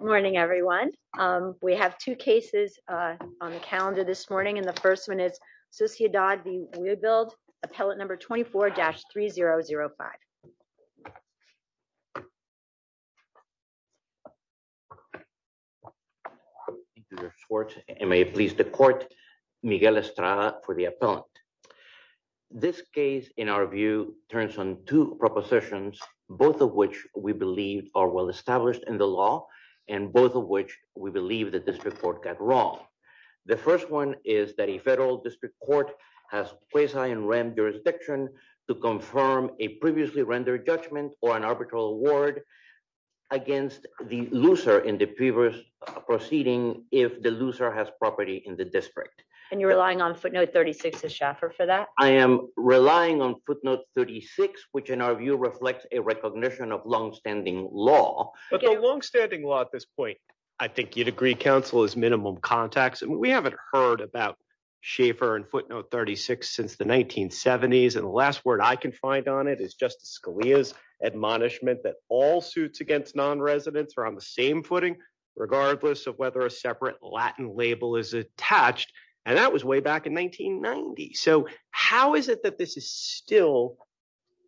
Morning everyone. We have two cases on the calendar this morning, and the first one is Sociedad v. We Build, appellate number 24-3005. It may please the court. Miguel Estrada for the appellant. This case, in our view, turns on two propositions, both of which we believe are well established in law, and both of which we believe the district court got wrong. The first one is that a federal district court has quasi-in rem jurisdiction to confirm a previously rendered judgment or an arbitral award against the loser in the previous proceeding if the loser has property in the district. And you're relying on footnote 36 as chaffer for that? I am relying on footnote 36, which in our view reflects a recognition of long-standing law. But the long-standing law at this point, I think you'd agree, counsel, is minimum contacts. We haven't heard about chaffer and footnote 36 since the 1970s, and the last word I can find on it is Justice Scalia's admonishment that all suits against non-residents are on the same footing, regardless of whether a separate Latin label is attached, and that was way back in 1990. So how is it that this is still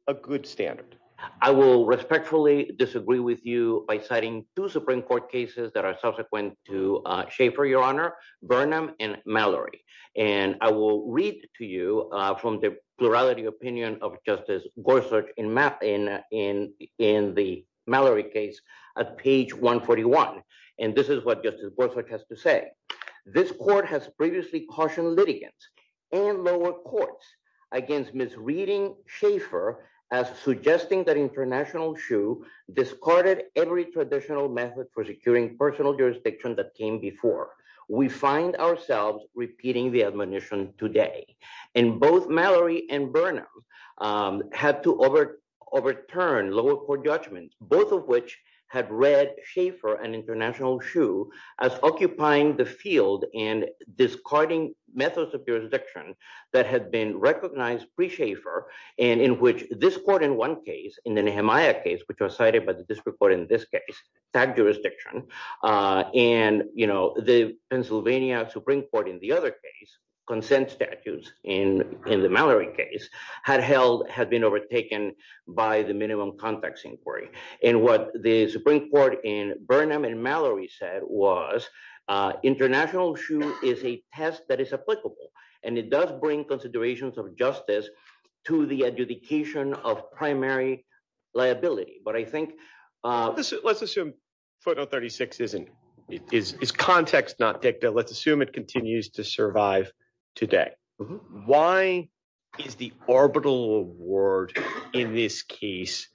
a good standard? I will respectfully disagree with you by citing two Supreme Court cases that are subsequent to chaffer, your honor, Burnham and Mallory, and I will read to you from the plurality opinion of Justice Gorsuch in the Mallory case at page 141, and this is what Justice Gorsuch has to say. This court has previously cautioned litigants and lower courts against misreading chaffer as suggesting that international shoe discarded every traditional method for securing personal jurisdiction that came before. We find ourselves repeating the admonition today, and both Mallory and Burnham had to overturn lower court judgments, both of which had read chaffer and international shoe as occupying the and discarding methods of jurisdiction that had been recognized pre-chaffer, and in which this court in one case, in the Nehemiah case, which was cited by the district court in this case, tagged jurisdiction, and, you know, the Pennsylvania Supreme Court in the other case, consent statutes in the Mallory case, had been overtaken by the minimum context inquiry, and what the Supreme Court in Burnham and Mallory said was international shoe is a test that is applicable, and it does bring considerations of justice to the adjudication of primary liability, but I think... Let's assume footnote 36 isn't, is context not dicta. Let's assume it continues to today. Why is the orbital award in this case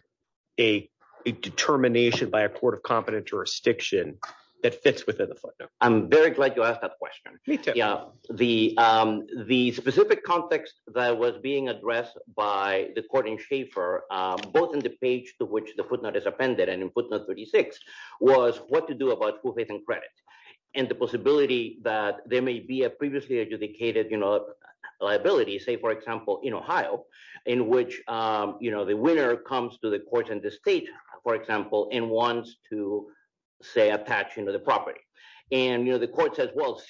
a determination by a court of competent jurisdiction that fits within the footnote? I'm very glad you asked that question. Yeah, the specific context that was being addressed by the court in chaffer, both in the page to which the footnote is appended and in footnote 36, was what to do about full faith and credit, and the possibility that there may be a previously adjudicated liability, say, for example, in Ohio, in which the winner comes to the court in the state, for example, and wants to, say, attach the property, and the court says, well,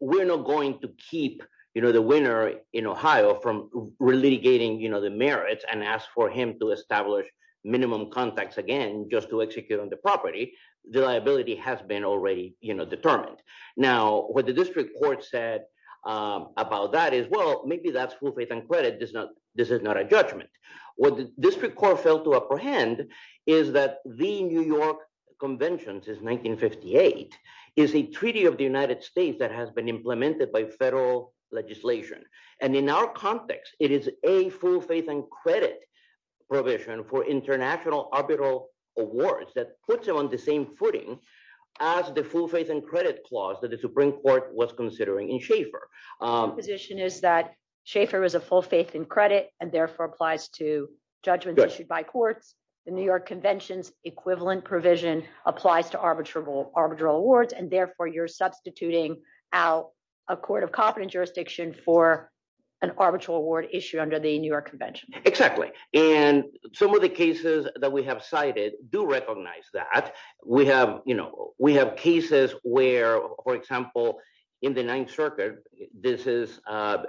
we're not going to keep the winner in Ohio from relitigating the merits and ask for him to establish minimum context again just to execute on the property. The liability has been already determined. Now, what the district court said about that is, well, maybe that's full faith and credit. This is not a judgment. What the district court failed to apprehend is that the New York Convention since 1958 is a treaty of the United States that has been implemented by federal legislation, and in our context, it is a full faith and credit provision for international arbitral awards that puts it on the same footing as the full faith and credit clause that the Supreme Court was considering in Schaeffer. The position is that Schaeffer is a full faith in credit and therefore applies to judgments issued by courts. The New York Convention's equivalent provision applies to arbitral awards, and therefore, you're substituting out a court of competent jurisdiction for an arbitral award issue under the New York Convention. Exactly, and some of the cases that we have cited do recognize that. We have, you know, we have cases where, for example, in the Ninth Circuit, this has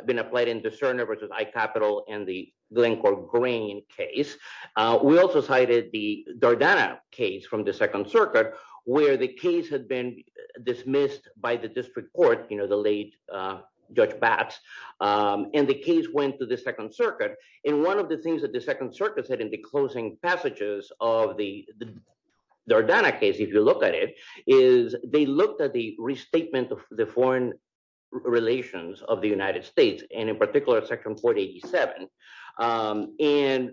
been applied in the Cerner versus I-Capitol and the Glencore-Grain case. We also cited the Dardana case from the Second Circuit where the case had been dismissed by the district court, you know, the late Judge Batts, and the case went to the Second Circuit, and one of the things that the Second Circuit said in the closing passages of the Dardana case, if you look at it, is they looked at the restatement of the foreign relations of the United States, and in particular, Section 487, and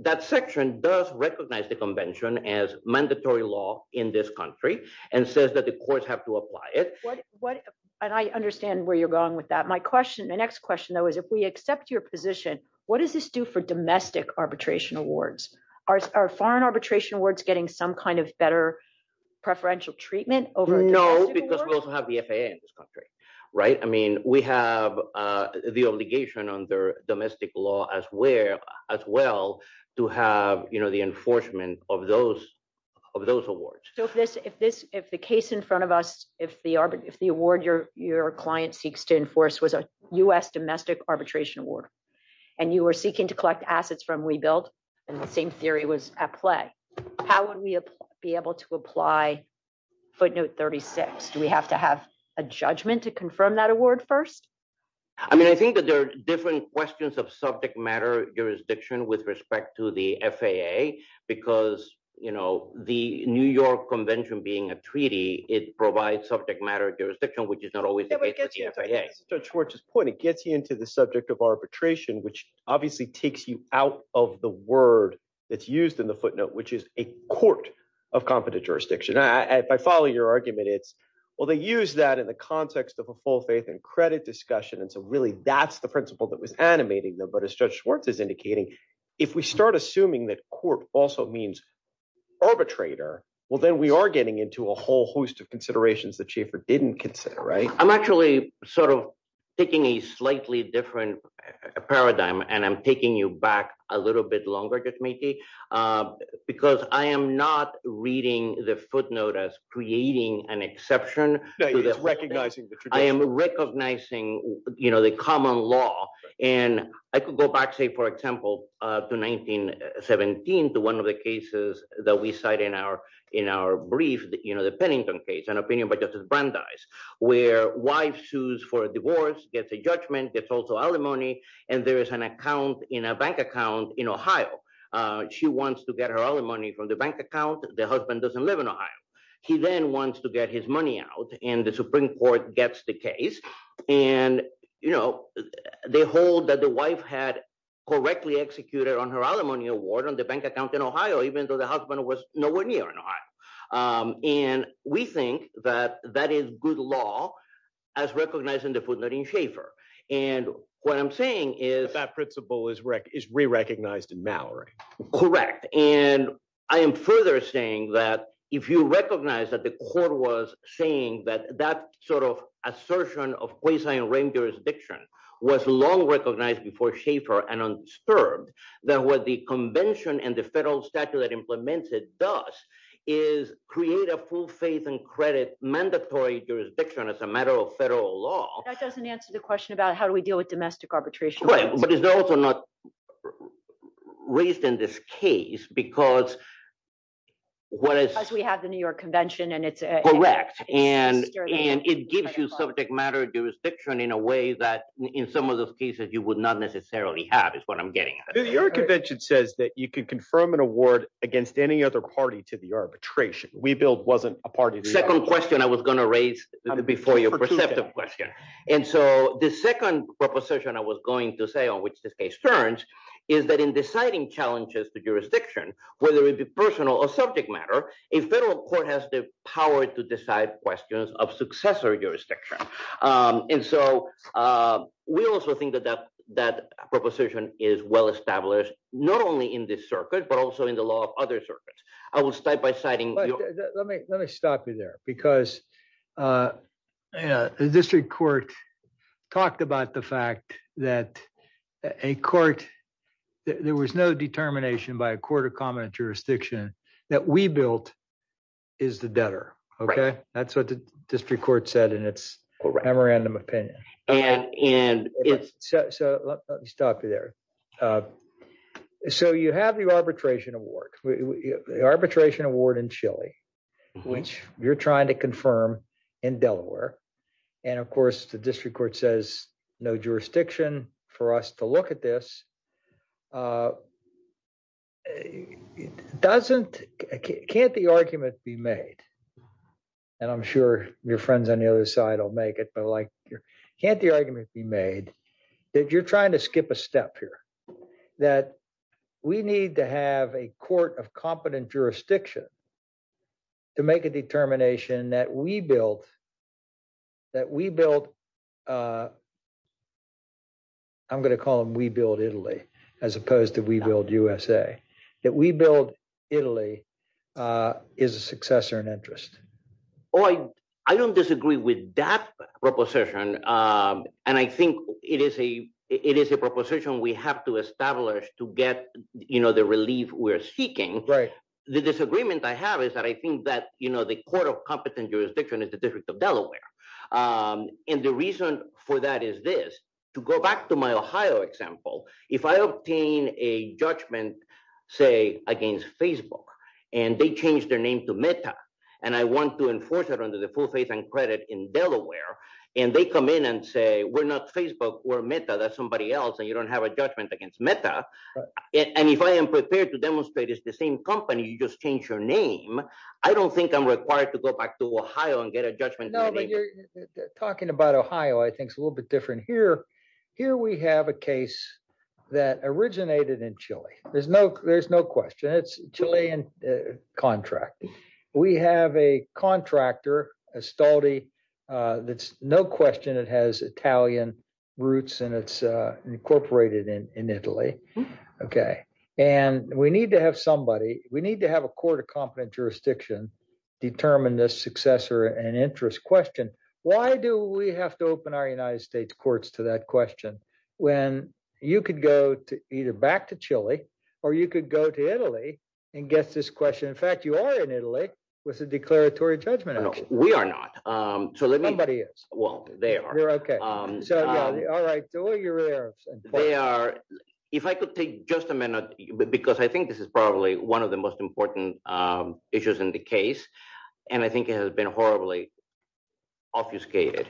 that section does recognize the Convention as mandatory law in this country and says that the courts have to apply it. And I understand where you're going with that. My question, my next question, though, is if we accept your position, what does this do for domestic arbitration awards? Are foreign arbitration awards getting some kind of better preferential treatment over a domestic award? No, because we also have the FAA in this country, right? I mean, we have the obligation under domestic law as well to have, you know, the enforcement of those awards. So if the case in front of us, if the award your client seeks to enforce was a U.S. domestic arbitration award, and you were seeking to collect assets from WeBuild, and the same theory was at play, how would we be able to apply footnote 36? Do we have to have a judgment to confirm that award first? I mean, I think that there are different questions of subject matter jurisdiction with respect to the FAA, because, you know, the New York Convention being a treaty, it provides subject matter jurisdiction, which is not always the case with the FAA. It gets you into the subject of arbitration, which obviously takes you out of the word that's used in the footnote, which is a court of competent jurisdiction. If I follow your argument, it's, well, they use that in the context of a full faith and credit discussion. And so really, that's the principle that was animating them. But as Judge also means arbitrator, well, then we are getting into a whole host of considerations that Schaefer didn't consider, right? I'm actually sort of taking a slightly different paradigm. And I'm taking you back a little bit longer, Judge Maiti, because I am not reading the footnote as creating an exception. I am recognizing, you know, the common law. And I could go back, say, for example, to 1917, to one of the cases that we cite in our brief, you know, the Pennington case, an opinion by Justice Brandeis, where wife sues for a divorce, gets a judgment, gets also alimony, and there is an account in a bank account in Ohio. She wants to get her alimony from the bank account. The husband doesn't live in Ohio. He then wants to get his money out, and the Supreme Court gets the case. And, you know, they hold that the wife had correctly executed on her alimony award on the bank account in Ohio, even though the husband was nowhere near in Ohio. And we think that that is good law, as recognized in the footnote in Schaefer. And what I'm saying is- That principle is re-recognized in Mallory. Correct. And I am further saying that if you recognize that the court was saying that that sort of assertion of quasi-arraigned jurisdiction was long recognized before Schaefer and underserved, that what the convention and the federal statute that implements it does is create a full faith and credit mandatory jurisdiction as a matter of federal law- That doesn't answer the question about how do we deal with domestic arbitration. Right. But it's also not raised in this case, because what is- Because we have the New York Convention, and it's- Correct. And it gives you subject matter jurisdiction in a way that in some of those cases you would not necessarily have, is what I'm getting at. The New York Convention says that you can confirm an award against any other party to the arbitration. WeBuild wasn't a party to the arbitration. Second question I was going to raise before your perceptive question. And so the second proposition I was going to say on which this case turns is that in deciding challenges to jurisdiction, whether it be personal or subject matter, a federal court has the power to decide questions of successor jurisdiction. And so we also think that that proposition is well-established, not only in this circuit, but also in the law of other circuits. I will start by citing- But let me stop you there, because the district court talked about the fact that a court, there was no determination by a court of common jurisdiction that WeBuild is the debtor. Okay? That's what the district court said in its memorandum opinion. And it's- So let me stop you there. So you have the arbitration award, the arbitration award in Chile, which you're trying to confirm in Delaware. And of course, the district court says, no jurisdiction for us to look at this. Can't the argument be made? And I'm sure your friends on the other side will make it, but can't the argument be made that you're trying to skip a step here, that we need to have a court of competent jurisdiction to make a determination that WeBuild, I'm going to call them WeBuild Italy, as opposed to WeBuild USA, that WeBuild Italy is a successor in interest? Oh, I don't disagree with that proposition. And I think it is a proposition we have to establish to get the relief we're seeking. The disagreement I have is that I think that the court of competent jurisdiction is the District of Delaware. And the reason for that is this, to go back to my Ohio example, if I obtain a judgment, say, against Facebook, and they change their name to Meta, and I want to enforce it under the full faith and credit in Delaware, and they come in and say, we're not Facebook, we're Meta, that's somebody else, and you don't have a judgment against Meta. And if I am prepared to demonstrate it's the same company, you just change your name, I don't think I'm required to go back to Ohio and get a judgment. Talking about Ohio, I think it's a little bit different here. Here, we have a case that originated in Chile. There's no question, it's Chilean contract. We have a contractor, Estaldi, that's no question, it has Italian roots, and it's incorporated in Italy. Okay. And we need to have somebody, we need to have a court of competent jurisdiction, determine this successor and interest question. Why do we have to open our United States courts to that question? When you could go either back to Chile, or you could go to Italy and get this question. In fact, you are in Italy with a declaratory judgment. No, we are not. Somebody is. Well, they are. You're okay. All right, so you're there. They are. If I could take just a minute, because I think this is probably one of the most important issues in the case, and I think it has been horribly obfuscated.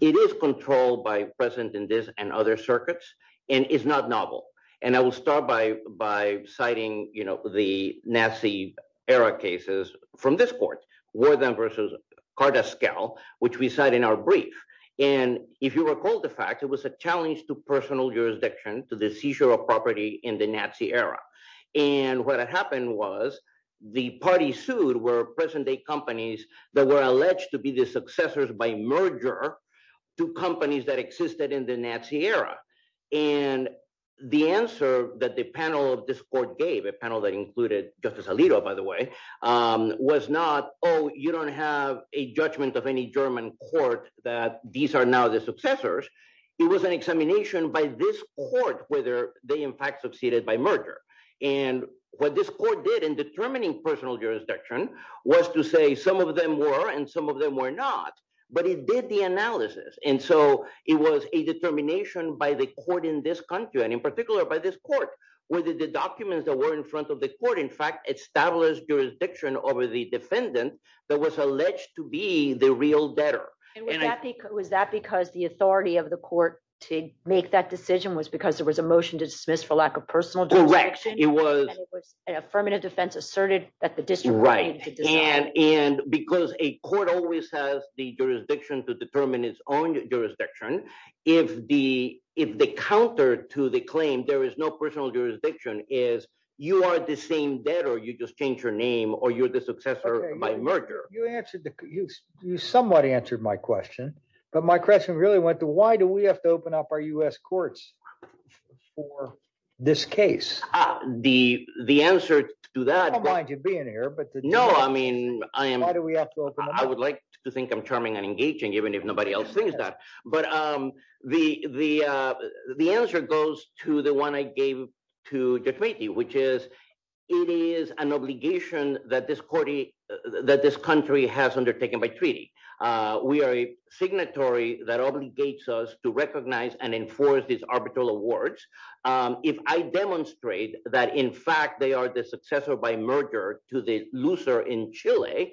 It is controlled by present in this and other circuits, and it's not novel. And I will start by citing the Nazi era cases from this court, Warden versus Cardascal, which we cite in our brief. And if you recall the fact, it was a challenge to personal jurisdiction to the seizure of property in the Nazi era. And what had happened was the party sued were present-day companies that were alleged to be the successors by merger to companies that existed in the Nazi era. And the answer that the panel of this court gave, a panel that included Justice Alito, by the way, was not, oh, you don't have a judgment of any German court that these are now the successors. It was an examination by this court whether they, in fact, succeeded by merger. And what this court did in determining personal jurisdiction was to say some of them were and some of them were not, but it did the analysis. And so it was a determination by the court in this country, and in particular by this court, whether the documents that were in front of the court, in fact, established jurisdiction over the defendant that was alleged to be the real debtor. And was that because the authority of the court to make that decision was because there was a motion to dismiss for lack of personal direction? It was an affirmative defense asserted that the district. Right. And and because a court always has the jurisdiction to determine its own jurisdiction, if the if the counter to the claim, there is no personal jurisdiction is you are the same debtor, you just change your name or you're the successor by merger. You answered you somewhat answered my question, but my question really went to why do we have to open up our U.S. courts for this case? The the answer to that, I don't mind you being here, but no, I mean, I am. Why do we have to open? I would like to think I'm charming and engaging, even if nobody else thinks that. But the the the answer goes to the one I gave to you, which is it is an obligation that this court that this country has undertaken by treaty. We are a signatory that obligates us to recognize and enforce these arbitral awards. If I demonstrate that, in fact, they are the successor by merger to the loser in Chile,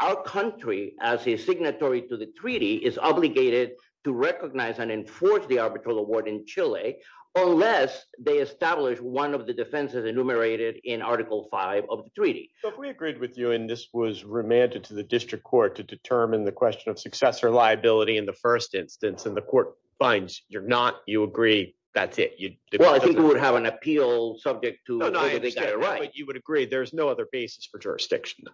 our country as a signatory to the treaty is obligated to recognize and enforce the arbitral award in Chile unless they establish one of the defenses enumerated in Article five of the treaty. So if we agreed with you and this was remanded to the district court to determine the question of successor liability in the first instance and the court finds you're not, you agree, that's it. Well, I think we would have an appeal subject to the right. You would agree there's no other basis for jurisdiction.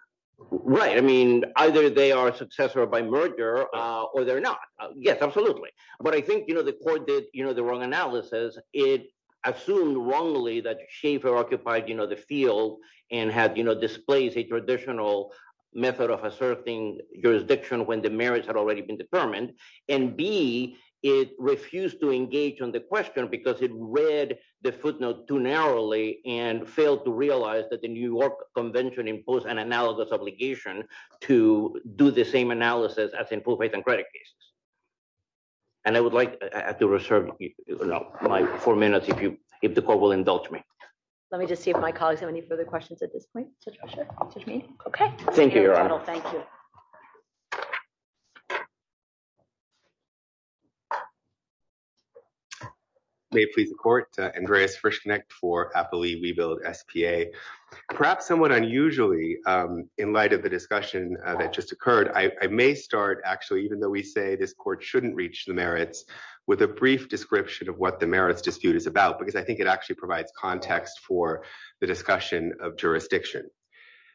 Right. I mean, either they are a successor by merger or they're not. Yes, absolutely. But I think, you know, the court did the wrong analysis. It assumed wrongly that Schaefer occupied the field and had displaced a traditional method of asserting jurisdiction when the merits had already been determined. And B, it refused to engage on the question because it read the footnote too narrowly and failed to realize that the New York Convention imposed an analogous obligation to do the same analysis as in full faith and credit cases. And I would like to reserve my four minutes if you if the court will indulge me. Let me just see if my colleagues have any further questions at this point. OK, thank you. Thank you. May it please the court, Andreas Frischknecht for Appalachia Rebuild SPA. Perhaps somewhat unusually in light of the discussion that just occurred, I may start, actually, even though we say this court shouldn't reach the merits, with a brief description of what the merits dispute is about, because I think it actually provides context for the discussion of jurisdiction.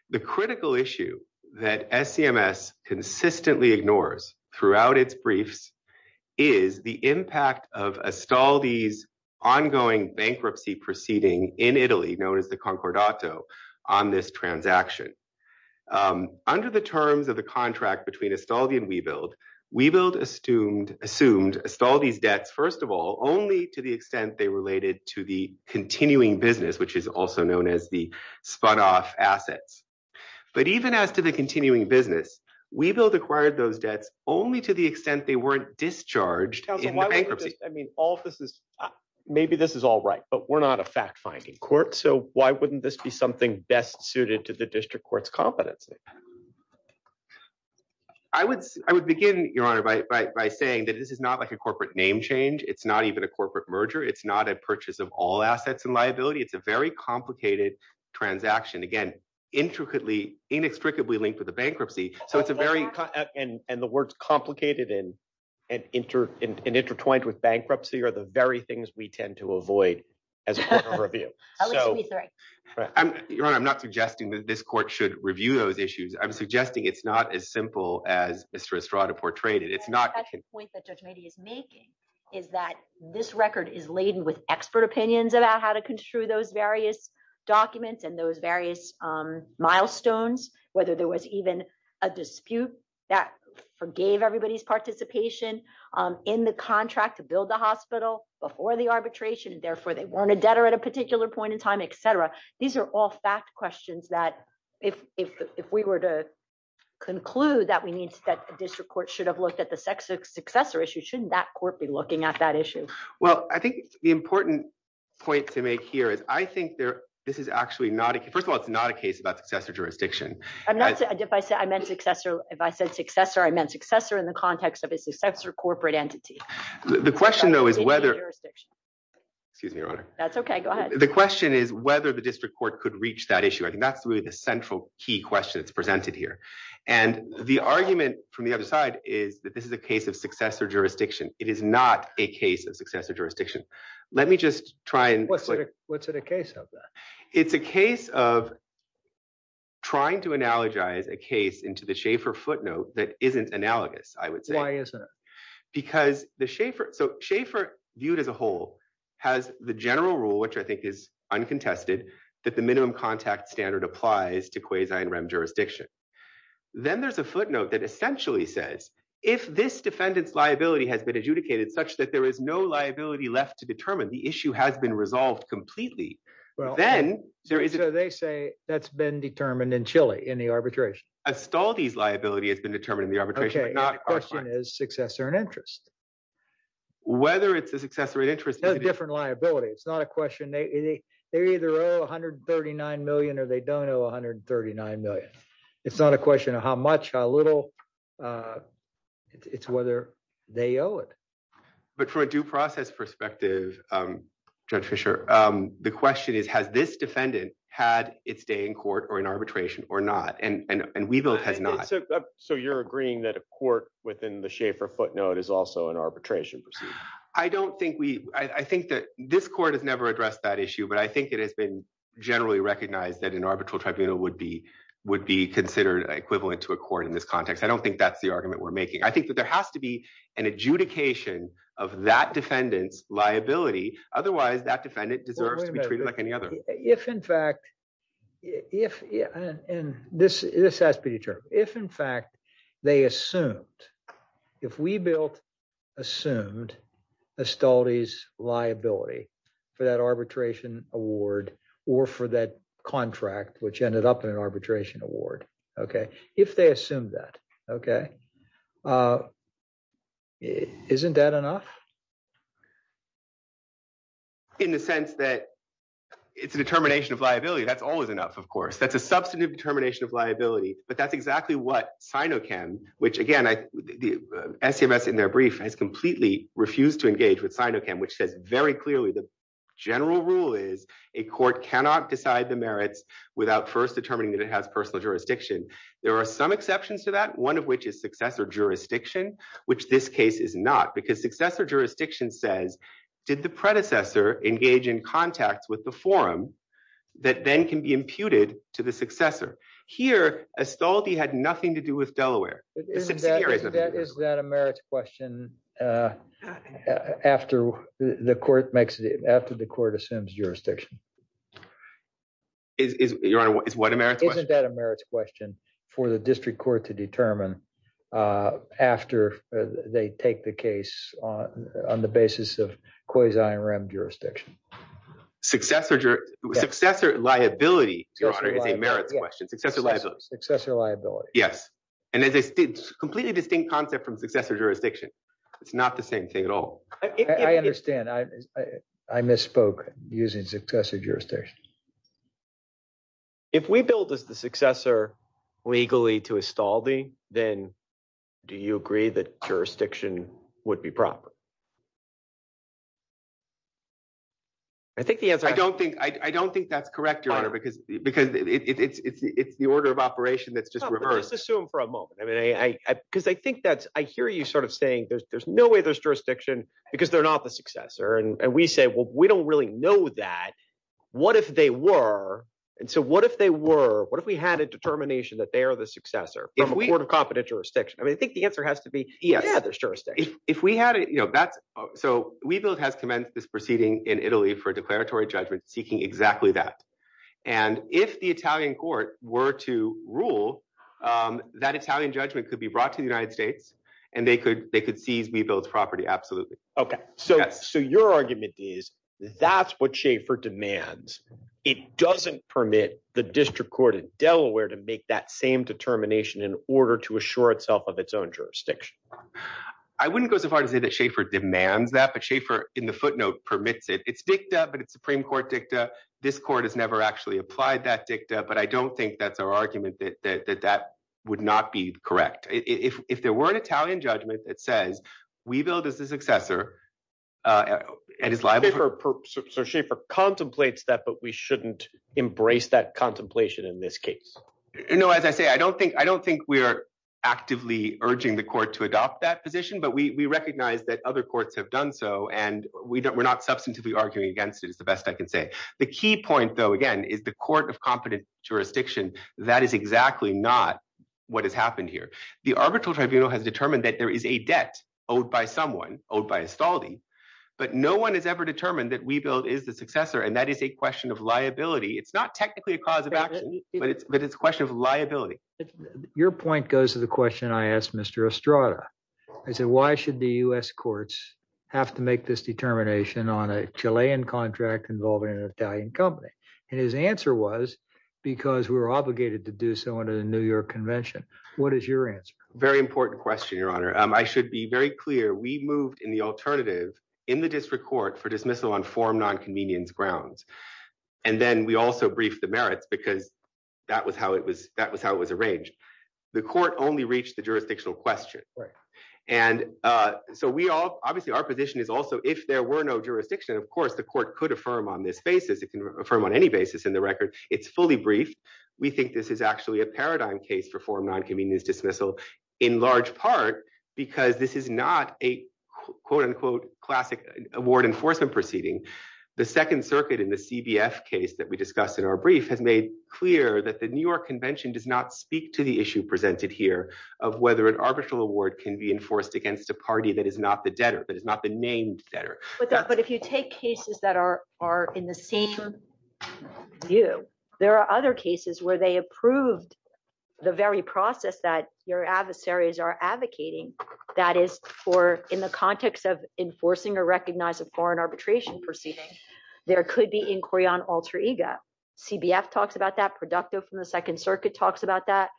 The critical issue that SCMS consistently ignores throughout its briefs is the impact of Astaldi's ongoing bankruptcy proceeding in Italy, known as the Concordato, on this transaction. Under the terms of the contract between Astaldi and Rebuild, Rebuild assumed Astaldi's debts, first of all, only to the extent they related to the continuing business, which is also known as the spot-off assets. But even as to the continuing business, Rebuild acquired those debts only to the extent they weren't discharged in bankruptcy. I mean, all this is maybe this is all right, but we're not a fact-finding court, so why wouldn't this be something best suited to the district court's competency? I would begin, Your Honor, by saying that this is not like a corporate name change. It's not even a corporate merger. It's not a purchase of all assets and liability. It's a very complicated transaction, again, intricately, inextricably linked with the bankruptcy. And the words complicated and intertwined with bankruptcy are the very things we tend to avoid as a court of review. I'm not suggesting that this court should review those issues. I'm just saying that it's not as simple as Mr. Estrada portrayed it. It's not— The point that Judge Mady is making is that this record is laden with expert opinions about how to construe those various documents and those various milestones, whether there was even a dispute that forgave everybody's participation in the contract to build the hospital before the arbitration, and therefore they weren't a debtor at a particular point in time, et cetera. These are all fact questions that if we were to conclude that a district court should have looked at the successor issue, shouldn't that court be looking at that issue? Well, I think the important point to make here is I think this is actually not— First of all, it's not a case about successor jurisdiction. If I said successor, I meant successor in the context of a successor corporate entity. The question, though, is whether— Excuse me, Your Honor. That's okay. Go ahead. The question is whether the district court could reach that issue. I think that's really the central key question that's presented here. The argument from the other side is that this is a case of successor jurisdiction. It is not a case of successor jurisdiction. Let me just try and— What's it a case of, then? It's a case of trying to analogize a case into the Schaeffer footnote that isn't analogous, I would say. Why isn't it? Because the Schaeffer— Schaeffer viewed as a whole has the general rule, which I think is uncontested, that the minimum contact standard applies to quasi and rem jurisdiction. Then there's a footnote that essentially says, if this defendant's liability has been adjudicated such that there is no liability left to determine, the issue has been resolved completely, then— They say that's been determined in Chile in the arbitration. Astaldi's liability has been determined in the arbitration, but not our client. The question is successor and interest. Whether it's a successor and interest— It has a different liability. It's not a question— They either owe $139 million or they don't owe $139 million. It's not a question of how much, how little. It's whether they owe it. But from a due process perspective, Judge Fischer, the question is, has this defendant had its day in court or in arbitration or not? And Weibull has not. So you're agreeing that a court within the Schaefer footnote is also an arbitration proceeding? I don't think we— I think that this court has never addressed that issue, but I think it has been generally recognized that an arbitral tribunal would be considered equivalent to a court in this context. I don't think that's the argument we're making. I think that there has to be an adjudication of that defendant's liability. Otherwise, that defendant deserves to be treated like any other. If, in fact— and this has to be determined— if, in fact, they assumed— if Weibull assumed Astaldi's liability for that arbitration award or for that contract, which ended up in an arbitration award, if they assumed that, isn't that enough? In the sense that it's a determination of liability, that's always enough, of course. That's a substantive determination of liability, but that's exactly what SINOCHEM, which, again, SCMS in their brief has completely refused to engage with SINOCHEM, which says very clearly the general rule is a court cannot decide the merits without first determining that it has personal jurisdiction. There are some exceptions to that, one of which is successor jurisdiction, which this case is not, because successor jurisdiction says, did the predecessor engage in contact with the forum that then can be imputed to the successor? Here, Astaldi had nothing to do with Delaware. Is that a merits question after the court assumes jurisdiction? Is what a merits question? Isn't that a merits question for the district court to determine after they take the case on the basis of quasi-IRM jurisdiction? Successor liability, Your Honor, is a merits question. Successor liability. Successor liability. Yes, and it's a completely distinct concept from successor jurisdiction. It's not the same thing at all. I understand. I misspoke using successor jurisdiction. If we billed as the successor legally to Astaldi, then do you agree that jurisdiction would be proper? I think the answer- I don't think that's correct, Your Honor, because it's the order of operation that's just reversed. Let's assume for a moment, because I hear you saying there's no way there's jurisdiction because they're not the successor, and we say, well, we don't really know that. What if they were, and so what if they were, what if we had a determination that they are the successor from a court of competent jurisdiction? I think the answer has to be, yeah, there's jurisdiction. So, WeBuild has commenced this proceeding in Italy for a declaratory judgment seeking exactly that. If the Italian court were to rule, that Italian judgment could be brought to the United States, and they could seize WeBuild's property, absolutely. Okay. So, your argument is that's what Schaefer demands. It doesn't permit the district court in Delaware to make that same determination in order to assure itself of its own jurisdiction. I wouldn't go so far to say that Schaefer demands that, but Schaefer, in the footnote, permits it. It's dicta, but it's Supreme Court dicta. This court has never actually applied that dicta, but I don't think that's our argument that that would not be correct. If there were an Italian judgment that says, WeBuild is the successor and is liable for- So, Schaefer contemplates that, but we shouldn't embrace that contemplation in this case. No, as I say, I don't think we're actively urging the court to adopt that position, but we recognize that other courts have done so, and we're not substantively arguing against it, is the best I can say. The key point, though, again, is the court of competent jurisdiction, that is exactly not what has happened here. The arbitral tribunal has determined that there is a debt owed by someone, owed by Estaldi, but no one has ever determined that WeBuild is the successor, and that is a question of liability. It's not technically a cause of action, but it's a question of liability. Your point goes to the question I asked Mr. Estrada. I said, Why should the U.S. courts have to make this determination on a Chilean contract involving an Italian company? And his answer was, Because we were obligated to do so under the New York Convention. What is your answer? Very important question, Your Honor. I should be very clear. We moved in the alternative in the district court for dismissal on form nonconvenience grounds, and then we also briefed the merits because that was how it was arranged. The court only reached the jurisdictional question. Obviously, our position is also, if there were no jurisdiction, of course, the court could affirm on this basis. It can affirm on any basis in the record. It's fully briefed. We think this is actually a paradigm case for form nonconvenience dismissal in large part because this is not a quote-unquote classic award enforcement proceeding. The Second Circuit in the CBF case that we discussed in our brief has made clear that the New York Convention does not speak to the issue presented here of whether an arbitral award can be enforced against a party that is not the debtor, but if you take cases that are in the same view, there are other cases where they approved the very process that your adversaries are advocating. That is for in the context of enforcing or recognizing foreign arbitration proceedings. There could be inquiry on alter ego. CBF talks about that. Producto from the Second Circuit talks about that.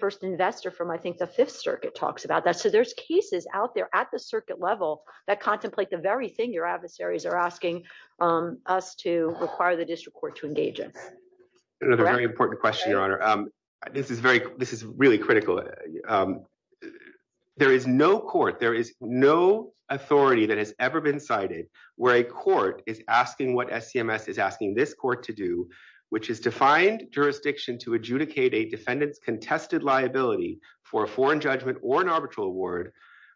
First Investor from, I think, the Fifth Circuit talks about that. There's cases out there at the circuit level that contemplate the very thing your adversaries are asking us to require the district court to engage in. Another very important question, Your Honor. This is really critical. There is no court, there is no authority that has ever been cited where a court is asking what SCMS is asking this court to do, which is to find jurisdiction to adjudicate a defendant's contested for a foreign judgment or an arbitral award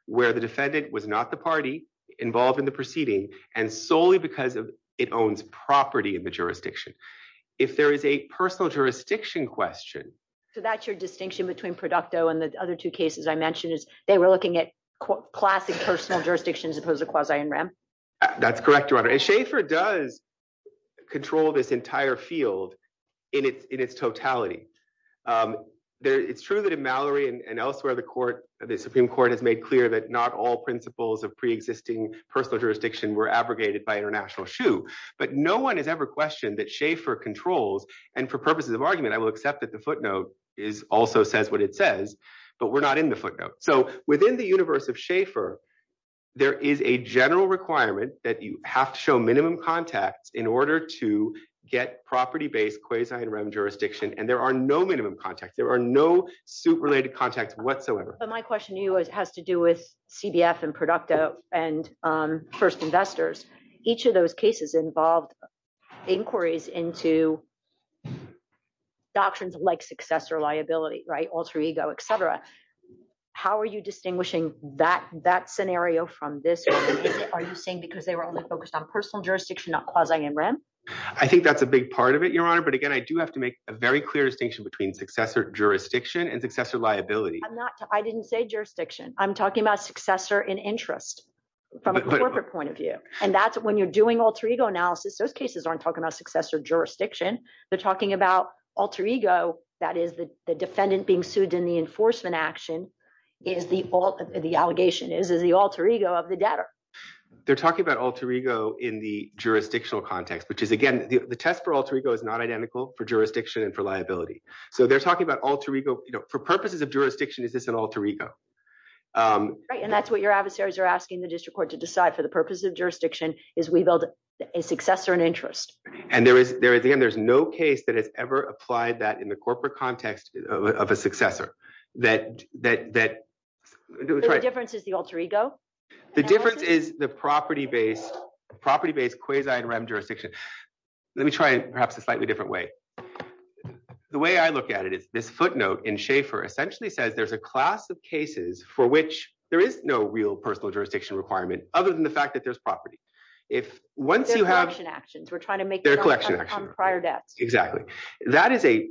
where the defendant was not the party involved in the proceeding and solely because it owns property in the jurisdiction. If there is a personal jurisdiction question... So that's your distinction between Producto and the other two cases I mentioned is they were looking at classic personal jurisdictions as opposed to quasi-in rem? That's correct, Your Honor. And Schaefer does control this entire field in its totality. It's true that in Mallory and elsewhere, the Supreme Court has made clear that not all principles of pre-existing personal jurisdiction were abrogated by international shoe, but no one has ever questioned that Schaefer controls. And for purposes of argument, I will accept that the footnote also says what it says, but we're not in the footnote. So within the universe of Schaefer, there is a general requirement that you have to show minimum contacts in order to get property based quasi-in rem jurisdiction. And there are no minimum contacts. There are no suit-related contacts whatsoever. But my question to you has to do with CBF and Producto and First Investors. Each of those cases involved inquiries into doctrines like successor liability, alter ego, et cetera. How are you distinguishing that scenario from this? Are you saying because they were only focused on personal jurisdiction, not quasi-in rem? I think that's a big part of it, Your Honor. But again, I do have to make a very clear distinction between successor jurisdiction and successor liability. I'm not. I didn't say jurisdiction. I'm talking about successor in interest from a corporate point of view. And that's when you're doing alter ego analysis, those cases aren't talking about successor jurisdiction. They're talking about alter ego. That is the defendant being sued in the enforcement action is the alter ego of the debtor. They're talking about alter ego in the jurisdictional context, which is again, the test for alter ego is not identical for jurisdiction and for liability. So they're talking about alter ego. For purposes of jurisdiction, is this an alter ego? Right. And that's what your adversaries are asking the district court to decide for the purposes of jurisdiction is we build a successor in interest. And there is no case that has ever applied that in the corporate context of a successor. The difference is the alter ego? The difference is the property-based quasi-REM jurisdiction. Let me try it perhaps a slightly different way. The way I look at it is this footnote in Schaefer essentially says there's a class of cases for which there is no real personal jurisdiction requirement other than the fact that there's property. If once you have- They're collection actions. We're trying to make it on prior debts. Exactly. That is a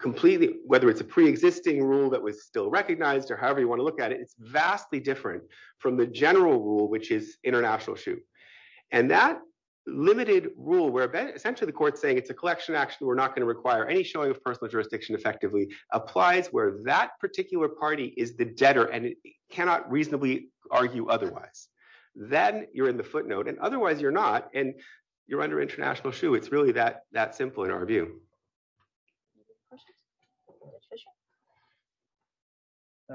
completely, whether it's a preexisting rule that was still recognized or you want to look at it, it's vastly different from the general rule, which is international shoe. And that limited rule where essentially the court's saying it's a collection action, we're not going to require any showing of personal jurisdiction effectively applies where that particular party is the debtor and it cannot reasonably argue otherwise. Then you're in the footnote and otherwise you're not and you're under international shoe. It's really that simple in our view. Any other questions? Mr. Fischer?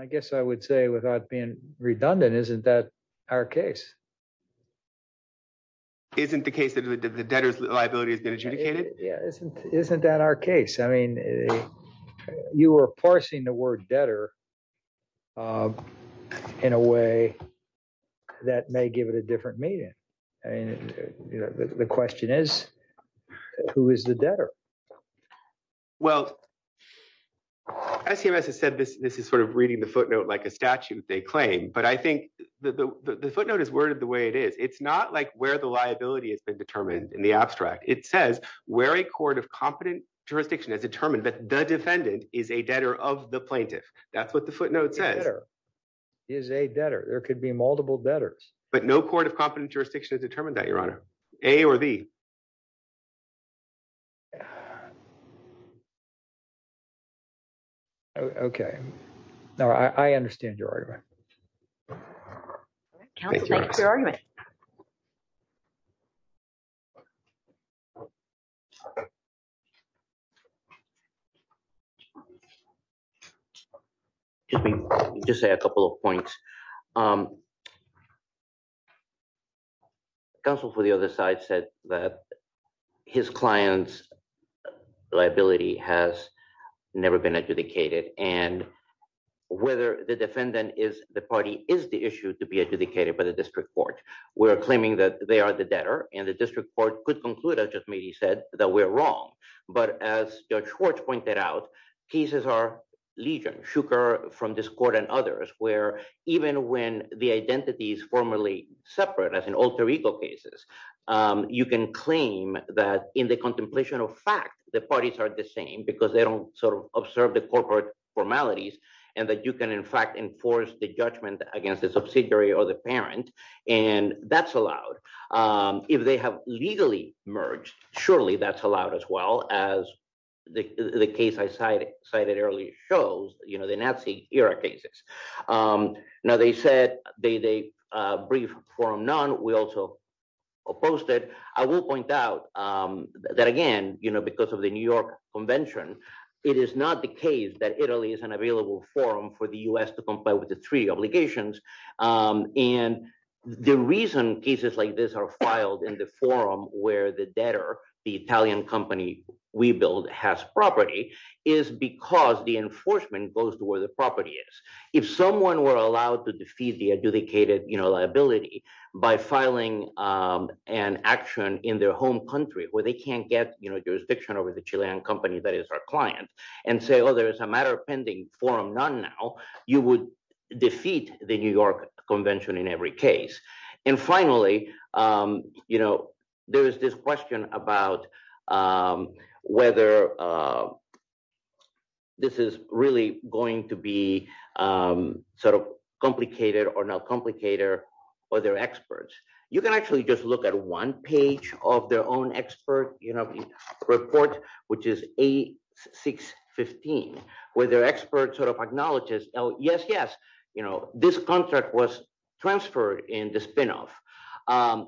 I guess I would say without being redundant, isn't that our case? Isn't the case that the debtor's liability has been adjudicated? Yeah. Isn't that our case? You were parsing the word debtor in a way that may give it a different meaning. The question is, who is the debtor? Well, as CMS has said, this is sort of reading the footnote like a statute they claim, but I think the footnote is worded the way it is. It's not like where the liability has been determined in the abstract. It says where a court of competent jurisdiction has determined that the defendant is a debtor of the plaintiff. That's what the footnote says. The debtor is a debtor. There could be multiple debtors. But no court of competent jurisdiction has determined that, Your Honor. A or the? Okay. No, I understand your argument. Counsel, thank you for your argument. Excuse me. I'll just say a couple of points. Counsel for the other side said that his client's liability has never been adjudicated, and whether the defendant is the party is the issue to be adjudicated by the district court. We're claiming that they are the debtor, and the district court could conclude, as just maybe said, that we're wrong. But as Judge Schwartz pointed out, cases are legion, shuker from this court and others, where even when the identity is formally separate, as in alter ego cases, you can claim that in the contemplation of fact, the parties are the same because they don't sort of observe the corporate formalities, and that you can, in fact, enforce the judgment against the subsidiary or the parent, and that's allowed. If they have legally merged, surely that's allowed as well as the case I cited earlier shows, you know, the Nazi era cases. Now, they said they brief forum none. We also opposed it. I will point out that, again, you know, because of the New York Convention, it is not the case that Italy is an available forum for the U.S. to comply with the three obligations, and the reason cases like this are filed in the forum where the debtor, the Italian company we build, has property is because the enforcement goes to where the property is. If someone were allowed to defeat the adjudicated liability by filing an action in their home country, where they can't get jurisdiction over the Chilean company that is our client, and say, oh, there is a matter of pending forum none now, you would defeat the New York Convention. There is this question about whether this is really going to be sort of complicated or not complicated for their experts. You can actually just look at one page of their own expert report, which is 8615, where their expert sort of acknowledges, oh, yes, yes, this contract was transferred in the spinoff,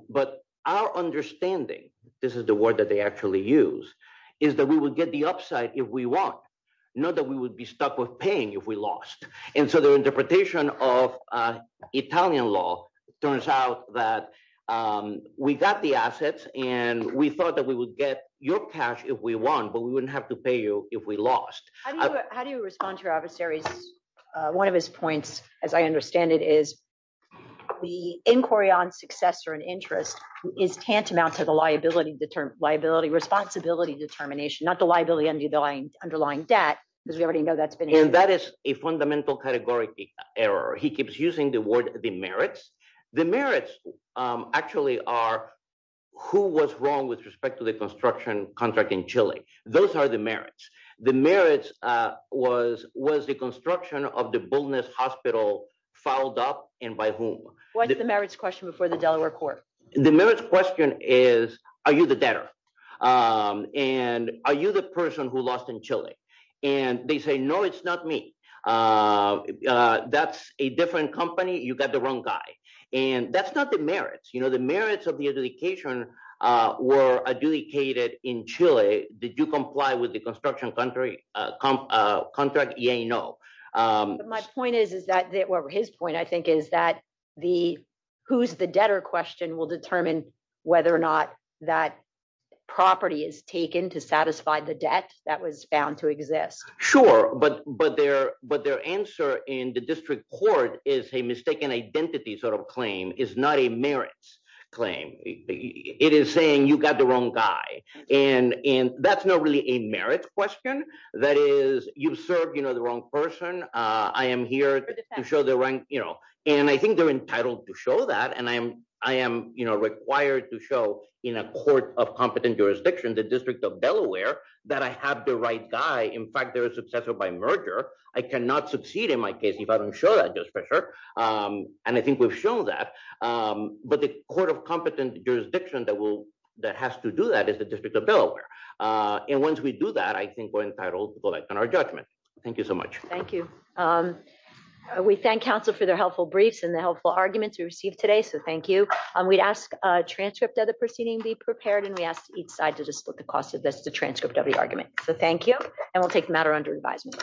but our understanding, this is the word that they actually use, is that we would get the upside if we won, not that we would be stuck with paying if we lost, and so their interpretation of Italian law turns out that we got the assets, and we thought that we would get your cash if we won, but we wouldn't have to pay you if we lost. How do you respond to your adversaries? One of his points, as I understand it, is the inquiry on success or an interest is tantamount to the liability responsibility determination, not the liability underlying debt, because we already know that's been here. And that is a fundamental categorical error. He keeps using the word the merits. The merits actually are who was wrong with respect to the construction contract in Chile. Those are the the merits. The merits was, was the construction of the baldness hospital filed up and by whom? What's the merits question before the Delaware court? The merits question is, are you the debtor? And are you the person who lost in Chile? And they say, no, it's not me. That's a different company, you got the wrong guy. And that's not the merits, the merits of the adjudication were adjudicated in Chile. Did you comply with the construction contract? Yeah, no. My point is, is that his point, I think, is that the who's the debtor question will determine whether or not that property is taken to satisfy the debt that was found to exist. Sure. But but their but their answer in the district court is a mistaken identity sort of claim is not a merits claim. It is saying you got the wrong guy. And in that's not really a merits question. That is, you've served, you know, the wrong person. I am here to show the rank, you know, and I think they're entitled to show that and I am I am, you know, required to show in a court of competent jurisdiction, the District of Delaware, that I have the right guy. In fact, they're a successor by merger, I cannot succeed in my case, I don't show that just for sure. And I think we've shown that. But the court of competent jurisdiction that will that has to do that is the District of Delaware. And once we do that, I think we're entitled to go back on our judgment. Thank you so much. Thank you. We thank counsel for their helpful briefs and the helpful arguments we received today. So thank you. We'd ask a transcript of the proceeding be prepared. And we asked each side to just look at this transcript of the argument. So thank you. And we'll take matter under advisement.